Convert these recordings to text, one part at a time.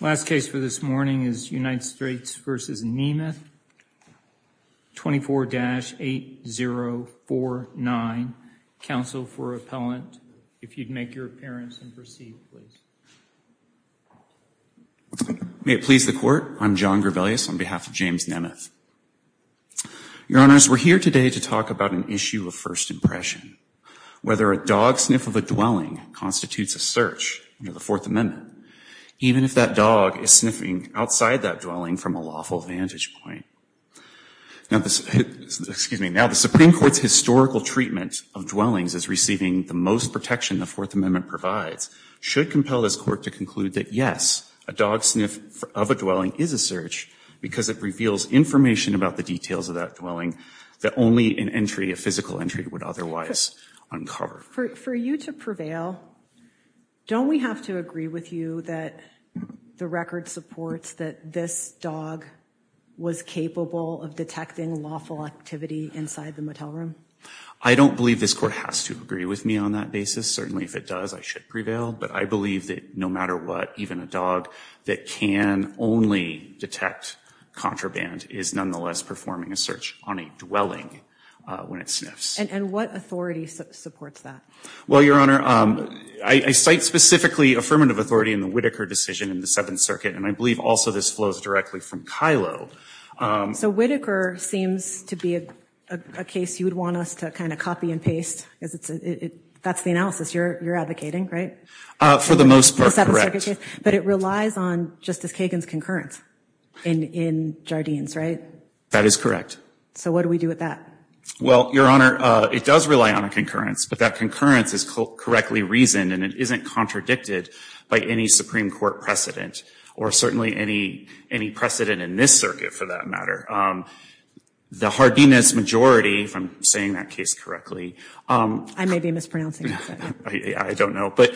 Last case for this morning is United States v. Nemeth, 24-8049. Counsel for Appellant, if you'd make your appearance and proceed, please. May it please the Court, I'm John Grevelius on behalf of James Nemeth. Your Honors, we're here today to talk about an issue of first impression, whether a dog even if that dog is sniffing outside that dwelling from a lawful vantage point. Now, excuse me, now the Supreme Court's historical treatment of dwellings as receiving the most protection the Fourth Amendment provides should compel this court to conclude that, yes, a dog sniff of a dwelling is a search because it reveals information about the details of that dwelling that only an entry, a physical entry would otherwise uncover. For you to prevail, don't we have to agree with you that the record supports that this dog was capable of detecting lawful activity inside the motel room? I don't believe this court has to agree with me on that basis. Certainly, if it does, I should prevail. But I believe that no matter what, even a dog that can only detect contraband is nonetheless performing a search on a dwelling when it sniffs. And what authority supports that? Well, Your Honor, I cite specifically affirmative authority in the Whitaker decision in the Seventh Circuit, and I believe also this flows directly from Kylo. So Whitaker seems to be a case you would want us to kind of copy and paste because that's the analysis you're advocating, right? For the most part, correct. But it relies on Justice Kagan's concurrence in Jardines, right? That is correct. So what do we do with that? Well, Your Honor, it does rely on a concurrence, but that concurrence is correctly reasoned and it isn't contradicted by any Supreme Court precedent or certainly any precedent in this circuit, for that matter. The Jardines majority, if I'm saying that case correctly, I may be mispronouncing it, I don't know, but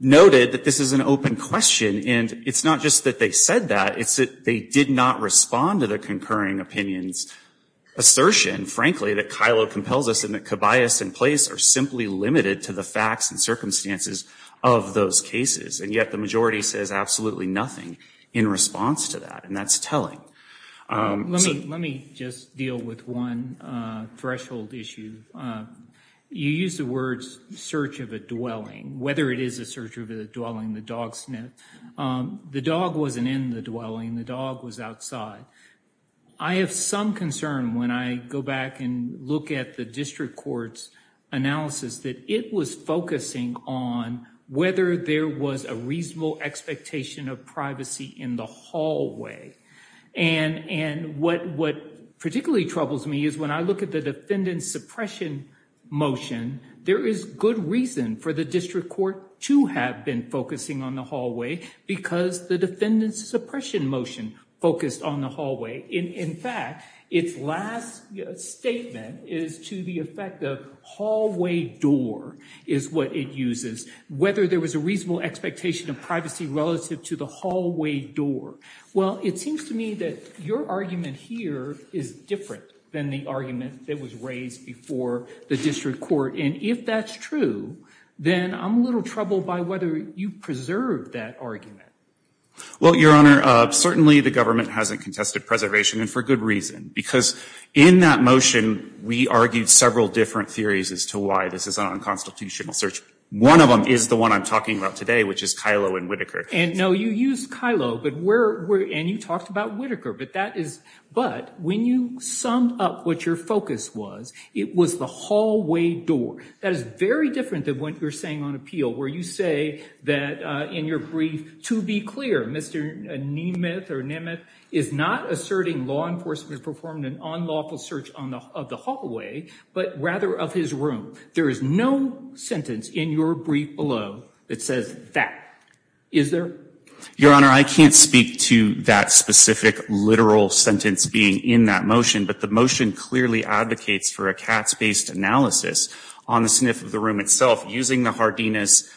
noted that this is an open question. And it's not just that they said that, it's that they did not respond to the concurring opinion's assertion, frankly, that Kylo compels us and that Kibayas and Place are simply limited to the facts and circumstances of those cases. And yet the majority says absolutely nothing in response to that. And that's telling. Let me just deal with one threshold issue. You use the words search of a dwelling, whether it is a search of a dwelling, the dog sniff, the dog wasn't in the dwelling, the dog was outside. I have some concern when I go back and look at the district court's analysis that it was focusing on whether there was a reasonable expectation of privacy in the hallway. And what particularly troubles me is when I look at the defendant's suppression motion, there is good reason for the district court to have been focusing on the hallway. In fact, its last statement is to the effect of hallway door is what it uses, whether there was a reasonable expectation of privacy relative to the hallway door. Well, it seems to me that your argument here is different than the argument that was raised before the district court. And if that's true, then I'm a little troubled by whether you preserve that argument. Well, Your Honor, certainly the government hasn't contested preservation and for good reason, because in that motion, we argued several different theories as to why this is an unconstitutional search. One of them is the one I'm talking about today, which is Kylo and Whitaker. And no, you use Kylo, but where and you talked about Whitaker, but that is but when you summed up what your focus was, it was the hallway door that is very different than what you're saying on appeal, where you say that in your brief, to be clear, Mr. Nemeth or Nemeth is not asserting law enforcement performed an unlawful search of the hallway, but rather of his room. There is no sentence in your brief below that says that. Is there? Your Honor, I can't speak to that specific literal sentence being in that motion, but the motion clearly advocates for a Katz based analysis on the sniff of the self using the Hardinus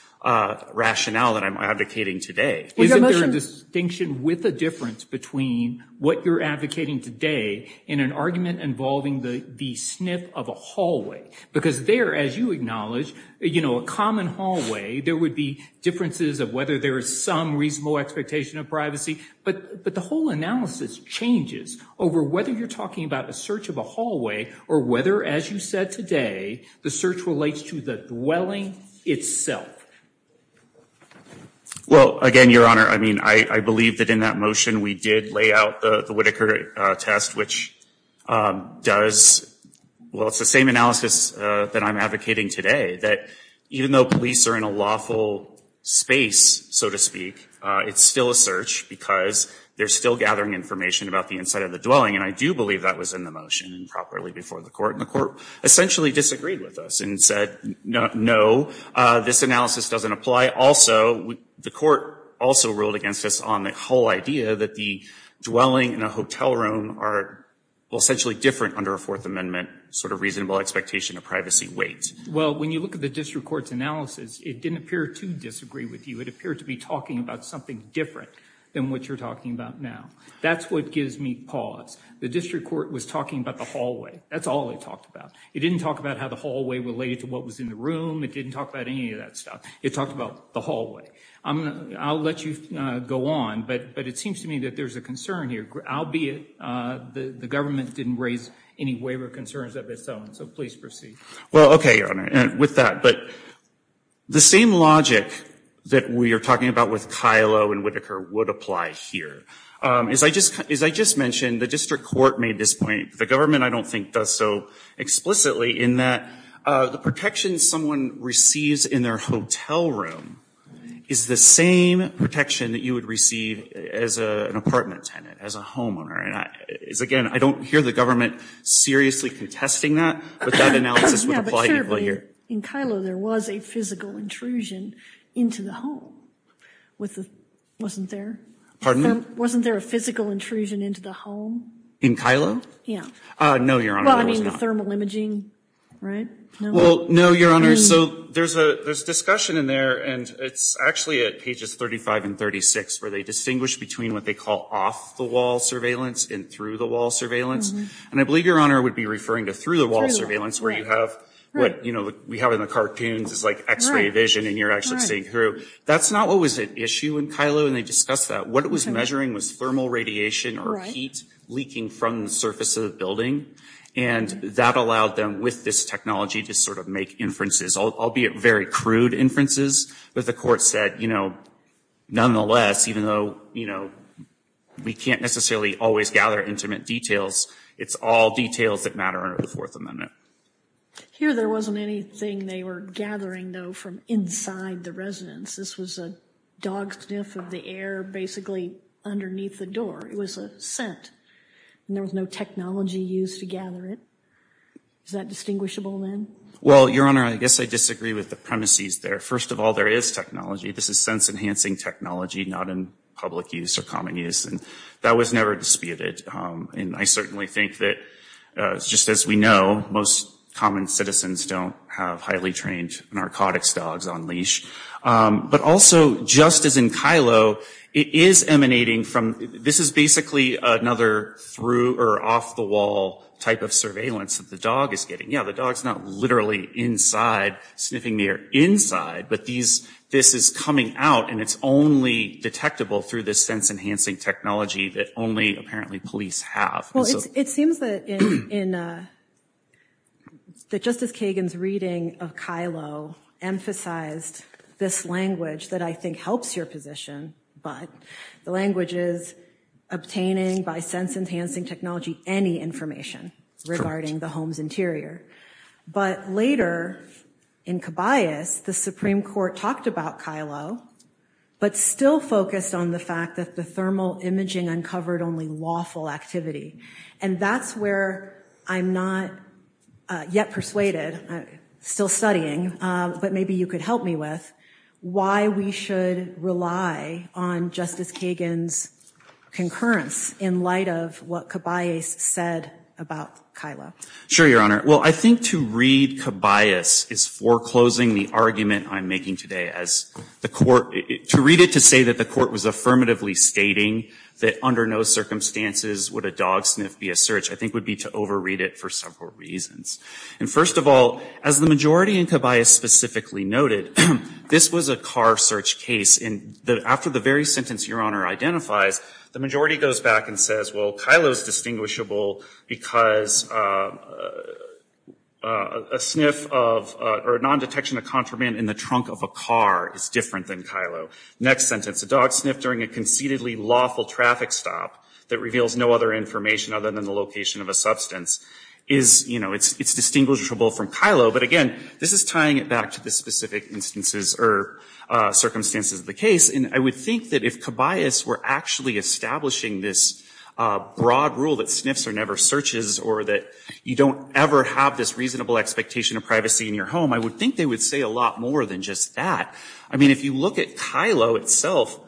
rationale that I'm advocating today. Isn't there a distinction with a difference between what you're advocating today in an argument involving the sniff of a hallway? Because there, as you acknowledge, you know, a common hallway, there would be differences of whether there is some reasonable expectation of privacy. But the whole analysis changes over whether you're talking about a search of a dwelling itself. Well, again, Your Honor, I mean, I believe that in that motion, we did lay out the Whitaker test, which does, well, it's the same analysis that I'm advocating today, that even though police are in a lawful space, so to speak, it's still a search because they're still gathering information about the inside of the dwelling. And I do believe that was in the motion and properly before the court. And the court essentially disagreed with us and said, no, this analysis doesn't apply. Also, the court also ruled against us on the whole idea that the dwelling in a hotel room are essentially different under a Fourth Amendment sort of reasonable expectation of privacy weight. Well, when you look at the district court's analysis, it didn't appear to disagree with you. It appeared to be talking about something different than what you're talking about now. That's what gives me pause. The district court was talking about the hallway. That's all it talked about. It didn't talk about how the hallway related to what was in the room. It didn't talk about any of that stuff. It talked about the hallway. I'll let you go on, but it seems to me that there's a concern here, albeit the government didn't raise any waiver concerns of its own. So please proceed. Well, OK, Your Honor, with that, but the same logic that we are talking about with Kylo and Whitaker would apply here. As I just mentioned, the district court made this point. The government, I don't think, does so explicitly in that the protection someone receives in their hotel room is the same protection that you would receive as an apartment tenant, as a homeowner. And again, I don't hear the government seriously contesting that, but that analysis would apply here. In Kylo, there was a physical intrusion into the home with the wasn't there. Pardon? Wasn't there a physical intrusion into the home? In Kylo? Yeah. No, Your Honor, there was not. Well, I mean, the thermal imaging, right? Well, no, Your Honor. So there's a discussion in there, and it's actually at pages 35 and 36 where they distinguish between what they call off-the-wall surveillance and through-the-wall surveillance. And I believe Your Honor would be referring to through-the-wall surveillance where you have what we have in the cartoons is like x-ray vision, and you're actually seeing through. That's not what was at issue in Kylo, and they discussed that. What it was measuring was thermal radiation or heat leaking from the surface of the building, and that allowed them with this technology to sort of make inferences, albeit very crude inferences. But the court said, you know, nonetheless, even though, you know, we can't necessarily always gather intimate details, it's all details that matter under the Fourth Amendment. Here, there wasn't anything they were gathering, though, from inside the residence. This was a dog sniff of the air, basically, underneath the door. It was a scent, and there was no technology used to gather it. Is that distinguishable, then? Well, Your Honor, I guess I disagree with the premises there. First of all, there is technology. This is sense-enhancing technology, not in public use or common use, and that was never disputed. And I certainly think that, just as we know, most common citizens don't have highly trained narcotics dogs on leash. But also, just as in Kylo, it is emanating from, this is basically another through-or-off-the-wall type of surveillance that the dog is getting. Yeah, the dog's not literally inside sniffing the air inside, but this is coming out, and it's only detectable through this sense-enhancing technology that only, apparently, police have. Well, it seems that, just as Kagan's reading of Kylo emphasized this language that I think helps your position, but the language is obtaining, by sense-enhancing technology, any information regarding the home's interior. But later, in Cabayas, the Supreme Court talked about Kylo, but still focused on the fact that the thermal imaging uncovered only lawful activity. And that's where I'm not yet persuaded, still studying, but maybe you could help me with why we should rely on Justice Kagan's concurrence in light of what Cabayas said about Kylo. Sure, Your Honor. Well, I think to read Cabayas is foreclosing the argument I'm making today. As the court, to read it to say that the court was affirmatively stating that under no circumstances would a dog sniff be a search, I think would be to overread it for several reasons. And first of all, as the majority in Cabayas specifically noted, this was a car search case. And after the very sentence Your Honor identifies, the majority goes back and says, well, Kylo's distinguishable because a sniff of, or a non-detection of contraband in the trunk of a car is different than Kylo. Next sentence, a dog sniff during a conceitedly lawful traffic stop that reveals no other information other than the location of a substance is, you know, it's distinguishable from Kylo. But again, this is tying it back to the specific instances or circumstances of the case. And I would think that if Cabayas were actually establishing this broad rule that sniffs are never searches or that you don't ever have this reasonable expectation of privacy in your home, I would think they would say a lot more than just that. I mean, if you look at Kylo itself,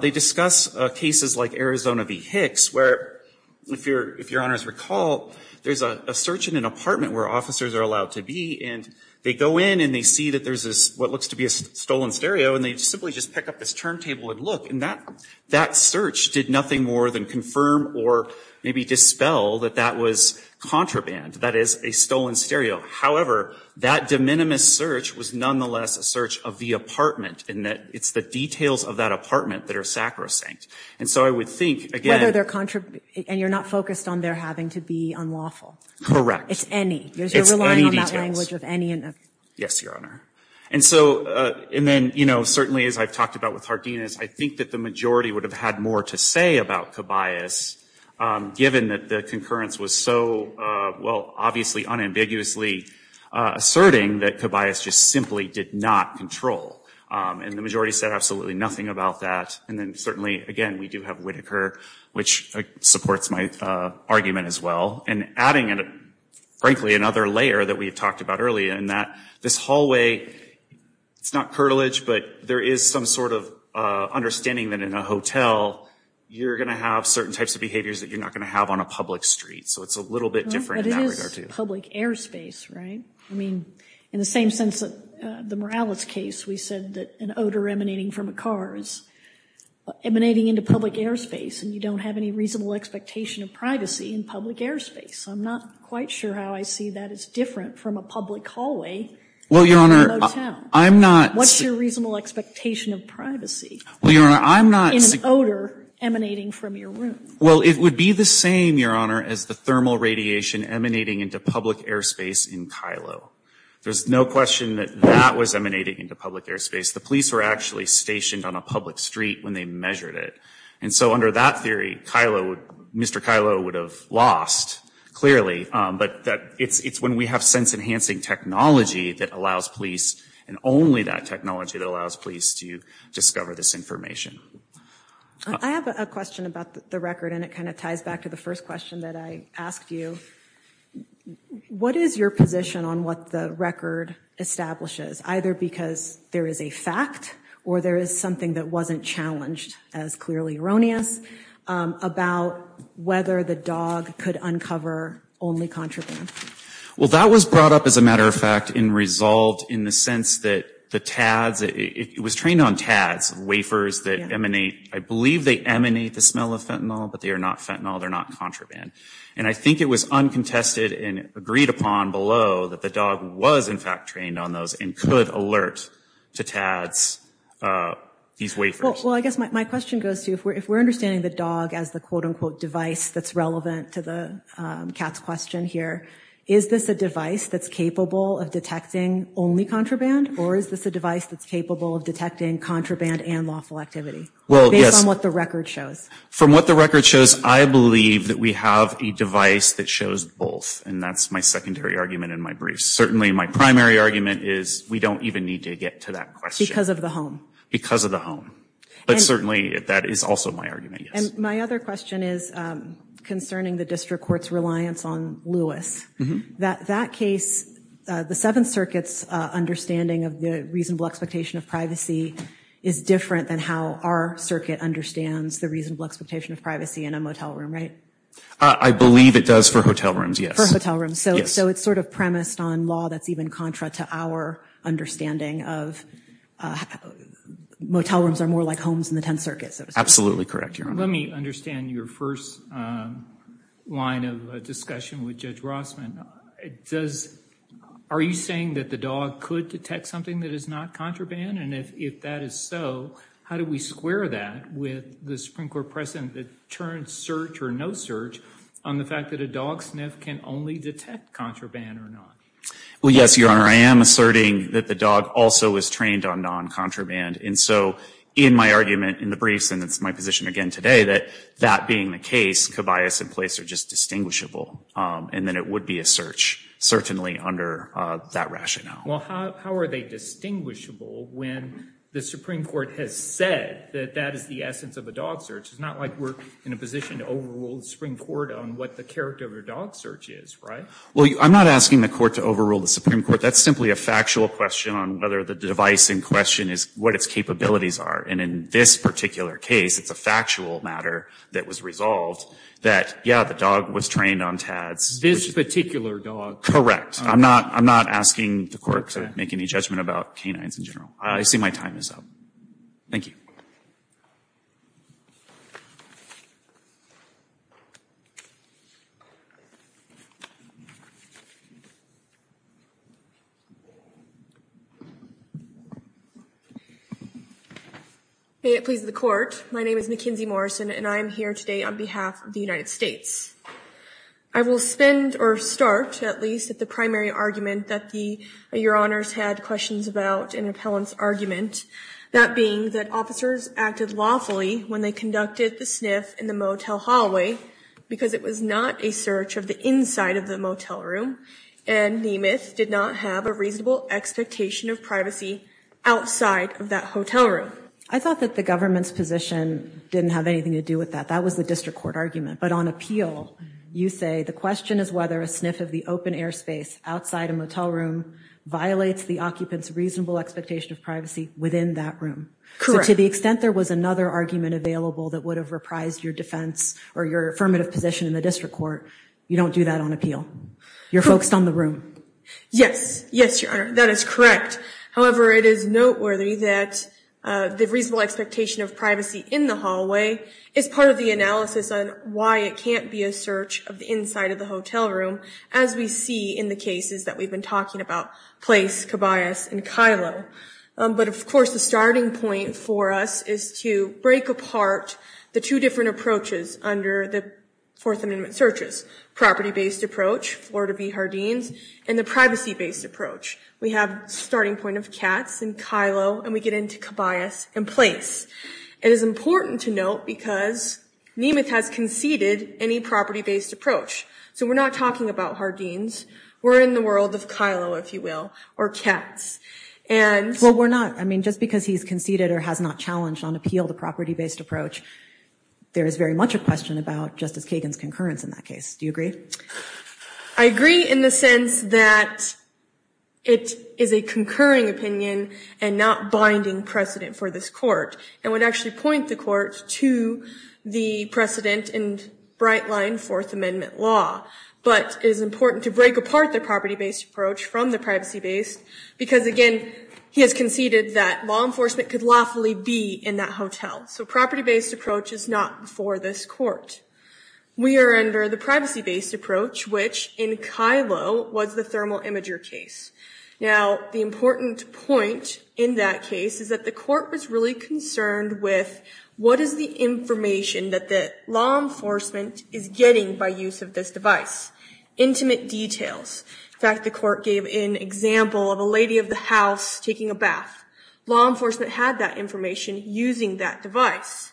they discuss cases like Arizona v. Hicks, where if Your Honor's recall, there's a search in an apartment where officers are allowed to be, and they go in and they see that there's this, what looks to be a stolen stereo. And they simply just pick up this turntable and look, and that search did nothing more than confirm or maybe dispel that that was contraband. That is a stolen stereo. However, that de minimis search was nonetheless a search of the apartment, and that it's the details of that apartment that are sacrosanct. And so I would think, again. And you're not focused on there having to be unlawful? Correct. It's any. It's any details. Yes, Your Honor. And so, and then, you know, certainly as I've talked about with Hardinas, I think that the majority would have had more to say about Cabayas, given that the concurrence was so, well, obviously unambiguously asserting that Cabayas just simply did not control. And the majority said absolutely nothing about that. And then certainly, again, we do have Whitaker, which supports my argument as well. And adding, frankly, another layer that we've talked about earlier in that this hallway, it's not curtilage, but there is some sort of understanding that in a hotel, you're going to have certain types of behaviors that you're not going to have on a public street. So it's a little bit different in that regard, too. But it is public airspace, right? I mean, in the same sense that the Morales case, we said that an odor emanating from a car is emanating into public airspace. And you don't have any reasonable expectation of privacy in public airspace. I'm not quite sure how I see that as different from a public hallway in a motel. Well, Your Honor, I'm not. What's your reasonable expectation of privacy? Well, Your Honor, I'm not. In an odor emanating from your room. Well, it would be the same, Your Honor, as the thermal radiation emanating into public airspace in Kylo. There's no question that that was emanating into public airspace. The police were actually stationed on a public street when they measured it. And so under that theory, Mr. Kylo would have lost, clearly. But it's when we have sense-enhancing technology that allows police, and only that technology that allows police to discover this information. I have a question about the record, and it kind of ties back to the first question that I asked you. What is your position on what the record establishes? Either because there is a fact, or there is something that wasn't challenged, as clearly erroneous, about whether the dog could uncover only contraband? Well, that was brought up, as a matter of fact, and resolved in the sense that the tads, it was trained on tads, wafers that emanate, I believe they emanate the smell of fentanyl, but they are not fentanyl, they're not contraband. And I think it was uncontested and agreed upon below that the dog was, in fact, trained on those, and could alert to tads these wafers. Well, I guess my question goes to, if we're understanding the dog as the quote unquote device that's relevant to the cat's question here, is this a device that's capable of detecting only contraband? Or is this a device that's capable of detecting contraband and lawful activity? Well, yes. Based on what the record shows. From what the record shows, I believe that we have a device that shows both, and that's my secondary argument in my brief. Certainly, my primary argument is we don't even need to get to that question. Because of the home. Because of the home. But certainly, that is also my argument, yes. And my other question is concerning the district court's reliance on Lewis. That case, the Seventh Circuit's understanding of the reasonable expectation of privacy is different than how our circuit understands the reasonable expectation of privacy in a motel room, right? I believe it does for hotel rooms, yes. For hotel rooms. So it's sort of premised on law that's even contra to our understanding of motel rooms are more like homes in the Tenth Circuit, so to speak. Absolutely correct, Your Honor. Let me understand your first line of discussion with Judge Rossman. Are you saying that the dog could detect something that is not contraband? And if that is so, how do we square that with the Supreme Court precedent that turns search or no search on the fact that a dog sniff can only detect contraband or not? Well, yes, Your Honor. I am asserting that the dog also is trained on non-contraband. And so in my argument in the briefs, and it's my position again today, that that being the case, co-bias and place are just distinguishable. And then it would be a search, certainly under that rationale. Well, how are they distinguishable when the Supreme Court has said that that is the essence of a dog search? It's not like we're in a position to overrule the Supreme Court on what the character of a dog search is, right? Well, I'm not asking the court to overrule the Supreme Court. That's simply a factual question on whether the device in question is what its capabilities are. And in this particular case, it's a factual matter that was resolved that, yeah, the dog was trained on TADS. This particular dog? Correct. I'm not asking the court to make any judgment about canines in general. I see my time is up. Thank you. May it please the court. My name is Mackenzie Morrison, and I'm here today on behalf of the United States. I will spend, or start at least, at the primary argument that Your Honors had questions about in an appellant's argument. That being that officers acted lawfully when they conducted the sniff in the motel hallway, because it was not a search of the inside of the motel room, and Nemeth did not have a reasonable expectation of privacy outside of that hotel room. I thought that the government's position didn't have anything to do with that. That was the district court argument. But on appeal, you say the question is whether a sniff of the open air space outside a motel room violates the occupant's reasonable expectation of privacy within that room. So to the extent there was another argument available that would have reprised your defense or your affirmative position in the district court, you don't do that on appeal. You're focused on the room. Yes. Yes, Your Honor. That is correct. However, it is noteworthy that the reasonable expectation of privacy in the hallway is part of the analysis on why it can't be a search of the inside of the hotel room, as we see in the cases that we've been talking about, Place, Cabayas, and Kylo. But of course, the starting point for us is to break apart the two different approaches under the Fourth Amendment searches, property-based approach, Florida v. Hardines, and the privacy-based approach. We have starting point of Katz and Kylo, and we get into Cabayas and Place. It is important to note because Nemeth has conceded any property-based approach. So we're not talking about Hardines. We're in the world of Kylo, if you will, or Katz. And... Well, we're not. I mean, just because he's conceded or has not challenged on appeal the property-based approach, there is very much a question about Justice Kagan's concurrence in that case. Do you agree? I agree in the sense that it is a concurring opinion and not binding precedent for this court, and would actually point the court to the precedent and bright line Fourth Amendment law. But it is important to break apart the property-based approach from the privacy-based because, again, he has conceded that law enforcement could lawfully be in that hotel. So property-based approach is not for this court. We are under the privacy-based approach, which in Kylo was the thermal imager case. Now, the important point in that case is that the court was really concerned with what is the information that the law enforcement is getting by use of this device? Intimate details. In fact, the court gave an example of a lady of the house taking a bath. Law enforcement had that information using that device.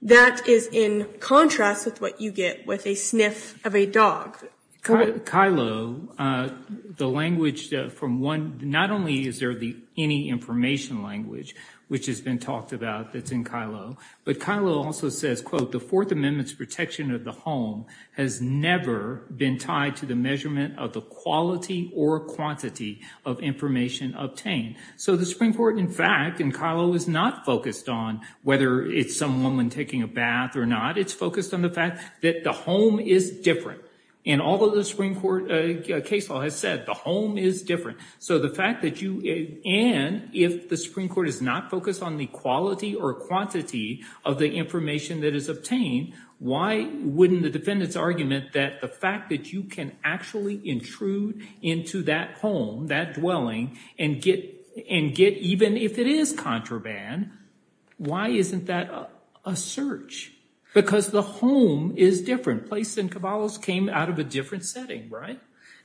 That is in contrast with what you get with a sniff of a dog. Kylo, the language from one, not only is there the any information language, which has been talked about that's in Kylo, but Kylo also says, quote, the Fourth Amendment's protection of the home has never been tied to the measurement of the quality or quantity of information obtained. So the Supreme Court, in fact, and Kylo is not focused on whether it's some woman taking a bath or not, it's focused on the fact that the home is different. And although the Supreme Court case law has said the home is different. So the fact that you and if the Supreme Court is not focused on the quality or quantity of the information that is obtained, why wouldn't the defendant's argument that the fact that you can actually intrude into that home, that dwelling and get and get even if it is contraband. Why isn't that a search? Because the home is different. Place and cabalos came out of a different setting, right?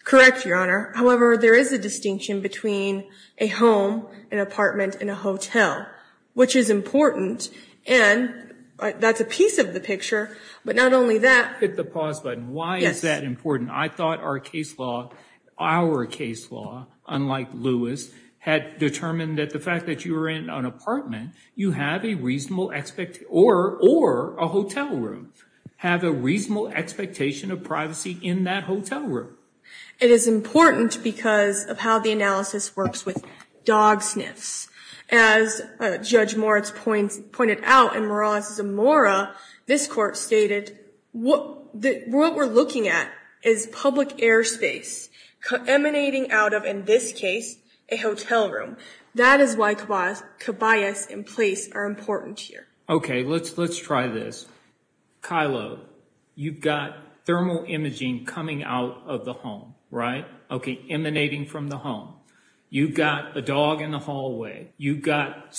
Correct, Your Honor. However, there is a distinction between a home, an apartment and a hotel, which is important. And that's a piece of the picture. But not only that. Hit the pause button. Why is that important? I thought our case law, our case law, unlike Lewis, had determined that the fact that you were in an apartment, you have a reasonable or a hotel room, have a reasonable expectation of privacy in that hotel room. It is important because of how the analysis works with dog sniffs. As Judge Moritz pointed out in Morales-Zamora, this court stated what we're looking at is public airspace emanating out of, in this case, a hotel room. That is why cabalos and place are important here. OK, let's let's try this. Kylo, you've got thermal imaging coming out of the home, right? OK, emanating from the home. You've got a dog in the hallway. You've got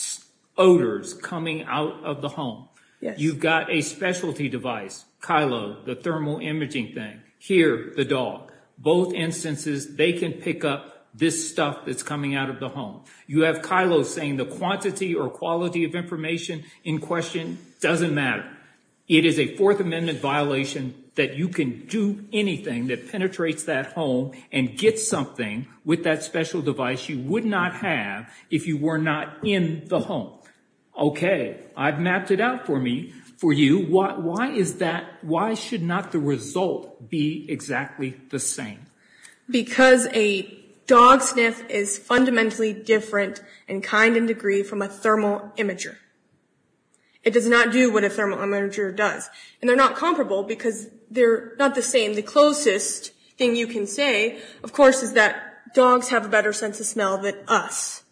odors coming out of the home. You've got a specialty device, Kylo, the thermal imaging thing. Here, the dog. Both instances, they can pick up this stuff that's coming out of the home. You have Kylo saying the quantity or quality of information in question doesn't matter. It is a Fourth Amendment violation that you can do anything that penetrates that home and get something with that special device you would not have if you were not in the home. OK, I've mapped it out for me, for you. Why is that? Why should not the result be exactly the same? Because a dog sniff is fundamentally different in kind and degree from a thermal imager. It does not do what a thermal imager does. And they're not comparable because they're not the same. The closest thing you can say, of course, is that dogs have a better sense of smell than us.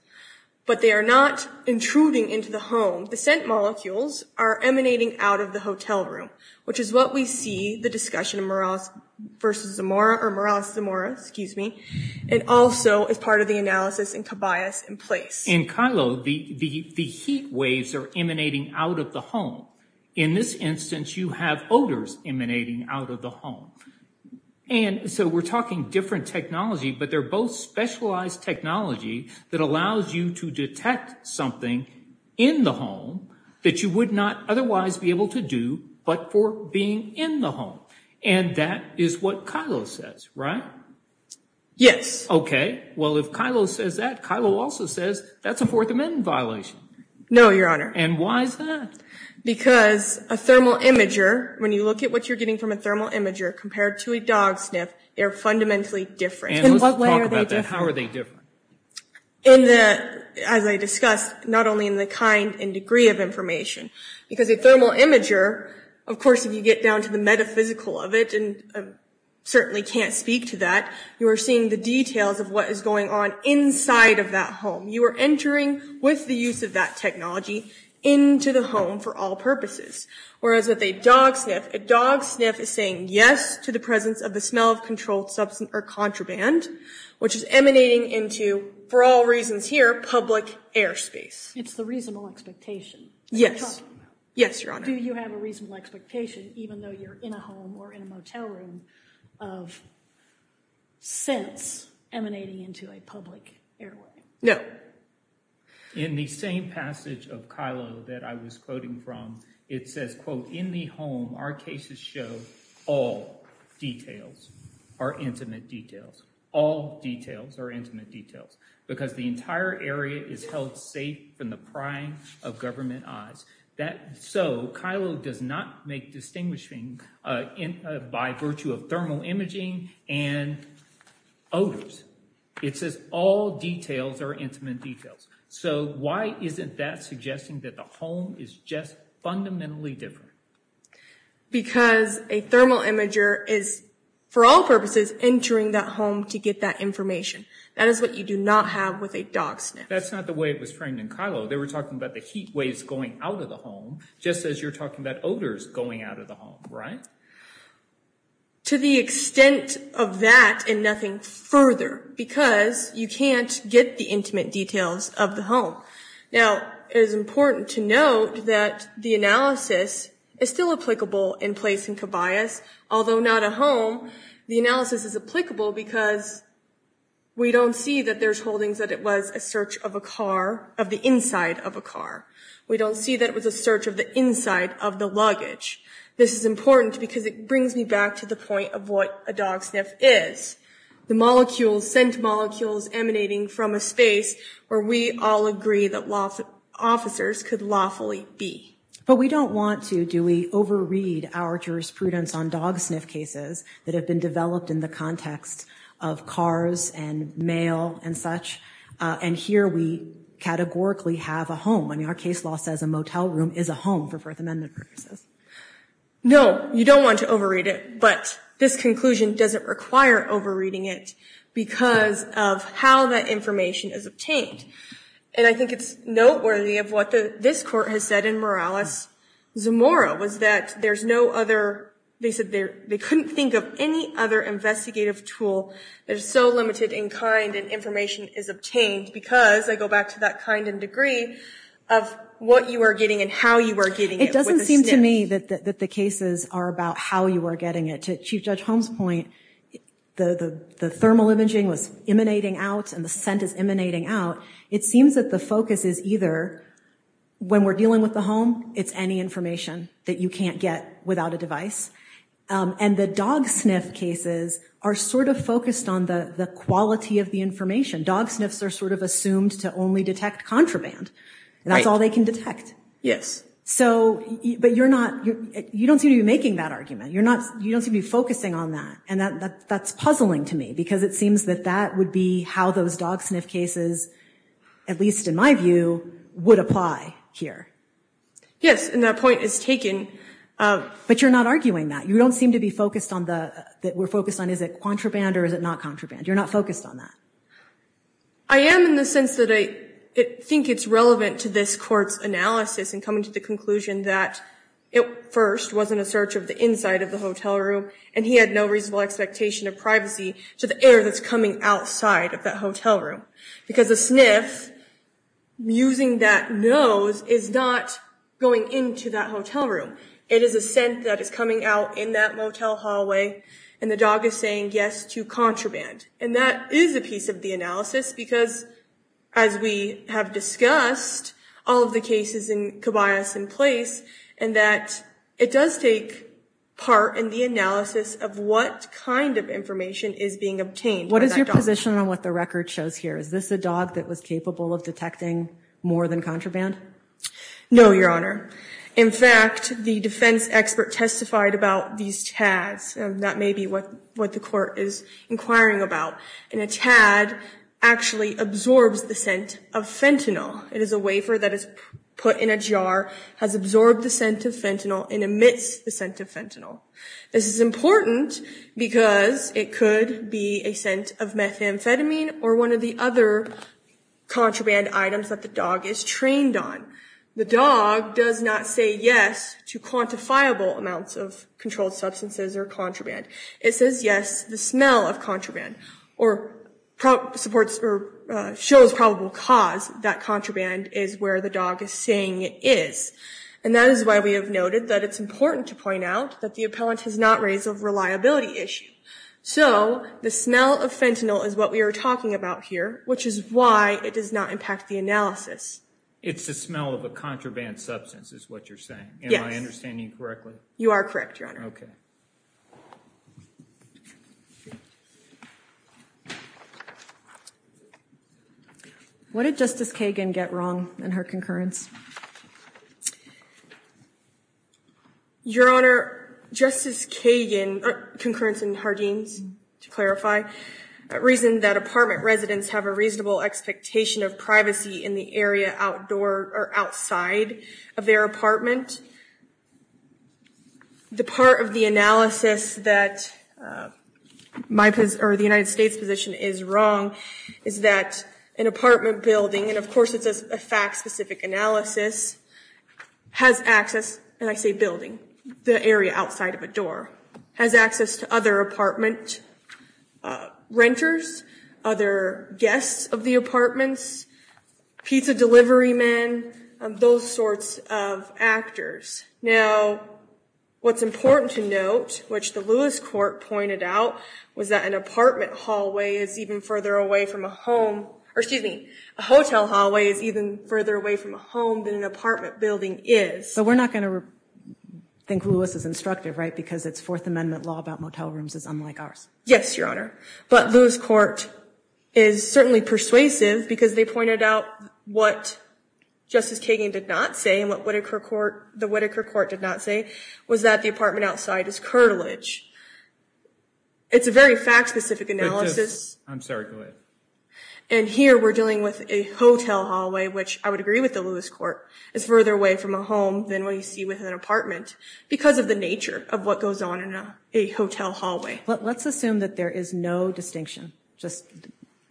But they are not intruding into the home. The scent molecules are emanating out of the hotel room, which is what we see the discussion of Morales versus Zamora, or Morales-Zamora, excuse me. It also is part of the analysis in Cabayas in place. In Kylo, the heat waves are emanating out of the home. In this instance, you have odors emanating out of the home. And so we're talking different technology, but they're both specialized technology that allows you to detect something in the home that you would not otherwise be able to do, but for being in the home. And that is what Kylo says, right? Yes. OK, well, if Kylo says that, Kylo also says that's a Fourth Amendment violation. No, Your Honor. And why is that? Because a thermal imager, when you look at what you're getting from a thermal imager compared to a dog sniff, they're fundamentally different. In what way are they different? How are they different? In the, as I discussed, not only in the kind and degree of information. Because a thermal imager, of course, if you get down to the metaphysical of it, and certainly can't speak to that, you are seeing the details of what is going on inside of that home. You are entering, with the use of that technology, into the home for all purposes. Whereas with a dog sniff, a dog sniff is saying yes to the presence of the smell of controlled substance or contraband, which is emanating into, for all reasons here, public airspace. It's the reasonable expectation. Yes, yes, Your Honor. Do you have a reasonable expectation, even though you're in a home or in a motel room, of scents emanating into a public airway? No. In the same passage of Kylo that I was quoting from, it says, quote, Our cases show all details are intimate details. All details are intimate details. Because the entire area is held safe from the prying of government eyes. So Kylo does not make distinguishing by virtue of thermal imaging and odors. It says all details are intimate details. So why isn't that suggesting that the home is just fundamentally different? Because a thermal imager is, for all purposes, entering that home to get that information. That is what you do not have with a dog sniff. That's not the way it was framed in Kylo. They were talking about the heat waves going out of the home, just as you're talking about odors going out of the home, right? To the extent of that and nothing further. Because you can't get the intimate details of the home. Now, it is important to note that the analysis is still applicable in place in Kobias. Although not a home, the analysis is applicable because we don't see that there's holdings that it was a search of a car, of the inside of a car. We don't see that it was a search of the inside of the luggage. This is important because it brings me back to the point of what a dog sniff is. The molecules, scent molecules emanating from a space where we all agree that law officers could lawfully be. But we don't want to. Do we overread our jurisprudence on dog sniff cases that have been developed in the context of cars and mail and such? And here we categorically have a home. I mean, our case law says a motel room is a home for First Amendment purposes. No, you don't want to overread it. But this conclusion doesn't require overreading it because of how that information is obtained. And I think it's noteworthy of what this court has said in Morales-Zamora, was that there's no other, they said they couldn't think of any other investigative tool that is so limited in kind and information is obtained because, I go back to that kind and degree, of what you are getting and how you are getting it. It doesn't seem to me that the cases are about how you are getting it. To Chief Judge Holmes' point, the thermal imaging was emanating out and the scent is emanating out. It seems that the focus is either, when we're dealing with the home, it's any information that you can't get without a device. And the dog sniff cases are sort of focused on the quality of the information. Dog sniffs are sort of assumed to only detect contraband. And that's all they can detect. Yes. So, but you're not, you don't seem to be making that argument. You're not, you don't seem to be focusing on that. And that's puzzling to me because it seems that that would be how those dog sniff cases, at least in my view, would apply here. Yes, and that point is taken. But you're not arguing that. You don't seem to be focused on the, that we're focused on, is it contraband or is it not contraband? You're not focused on that. I am in the sense that I think it's relevant to this court's analysis in coming to the conclusion that it first wasn't a search of the inside of the hotel room and he had no reasonable expectation of privacy to the air that's coming outside of that hotel room. Because a sniff using that nose is not going into that hotel room. It is a scent that is coming out in that motel hallway and the dog is saying yes to contraband. And that is a piece of the analysis because, as we have discussed, all of the cases in Kibayas in place, and that it does take part in the analysis of what kind of information is being obtained. What is your position on what the record shows here? Is this a dog that was capable of detecting more than contraband? No, Your Honor. In fact, the defense expert testified about these tags. That may be what the court is inquiring about. And a tad actually absorbs the scent of fentanyl. It is a wafer that is put in a jar, has absorbed the scent of fentanyl and emits the scent of fentanyl. This is important because it could be a scent of methamphetamine or one of the other contraband items that the dog is trained on. The dog does not say yes to quantifiable amounts of controlled substances or contraband. It says yes, the smell of contraband, or shows probable cause that contraband is where the dog is saying it is. And that is why we have noted that it's important to point out that the appellant has not raised a reliability issue. So the smell of fentanyl is what we are talking about here, which is why it does not impact the analysis. It's the smell of a contraband substance is what you're saying? Yes. Am I understanding correctly? You are correct, Your Honor. Okay. What did Justice Kagan get wrong in her concurrence? Your Honor, Justice Kagan, concurrence in Hardeen's, to clarify, reason that apartment residents have a reasonable expectation of privacy in the area outside of their apartment. The part of the analysis that the United States position is wrong is that an apartment building, and of course it's a fact-specific analysis, has access, and I say building, the area outside of a door, has access to other apartment renters, other guests of the apartments, pizza delivery men, those sorts of actors. Now, what's important to note, which the Lewis Court pointed out, was that an apartment hallway is even further away from a home, or excuse me, a hotel hallway is even further away from a home than an apartment building is. But we're not going to think Lewis is instructive, right? Because it's Fourth Amendment law about motel rooms is unlike ours. Yes, Your Honor. But Lewis Court is certainly persuasive, because they pointed out what Justice Kagan did not say, and what the Whitaker Court did not say, was that the apartment outside is curtilage. It's a very fact-specific analysis. I'm sorry, go ahead. And here we're dealing with a hotel hallway, which I would agree with the Lewis Court, is further away from a home than what you see with an apartment, because of the nature of what goes on in a hotel hallway. Let's assume that there is no distinction, just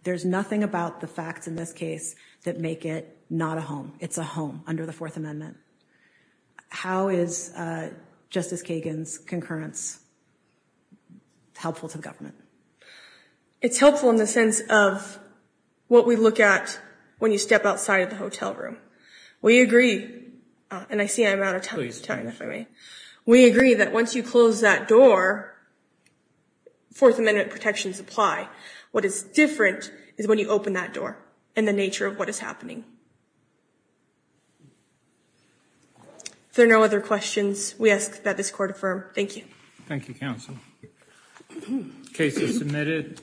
there's nothing about the facts in this case that make it not a home. It's a home under the Fourth Amendment. How is Justice Kagan's concurrence helpful to the government? It's helpful in the sense of what we look at when you step outside of the hotel room. We agree, and I see I'm out of time, if I may. We agree that once you close that door, Fourth Amendment protections apply. What is different is when you open that door, and the nature of what is happening. If there are no other questions, we ask that this Court affirm. Thank you. Thank you, counsel. Case is submitted.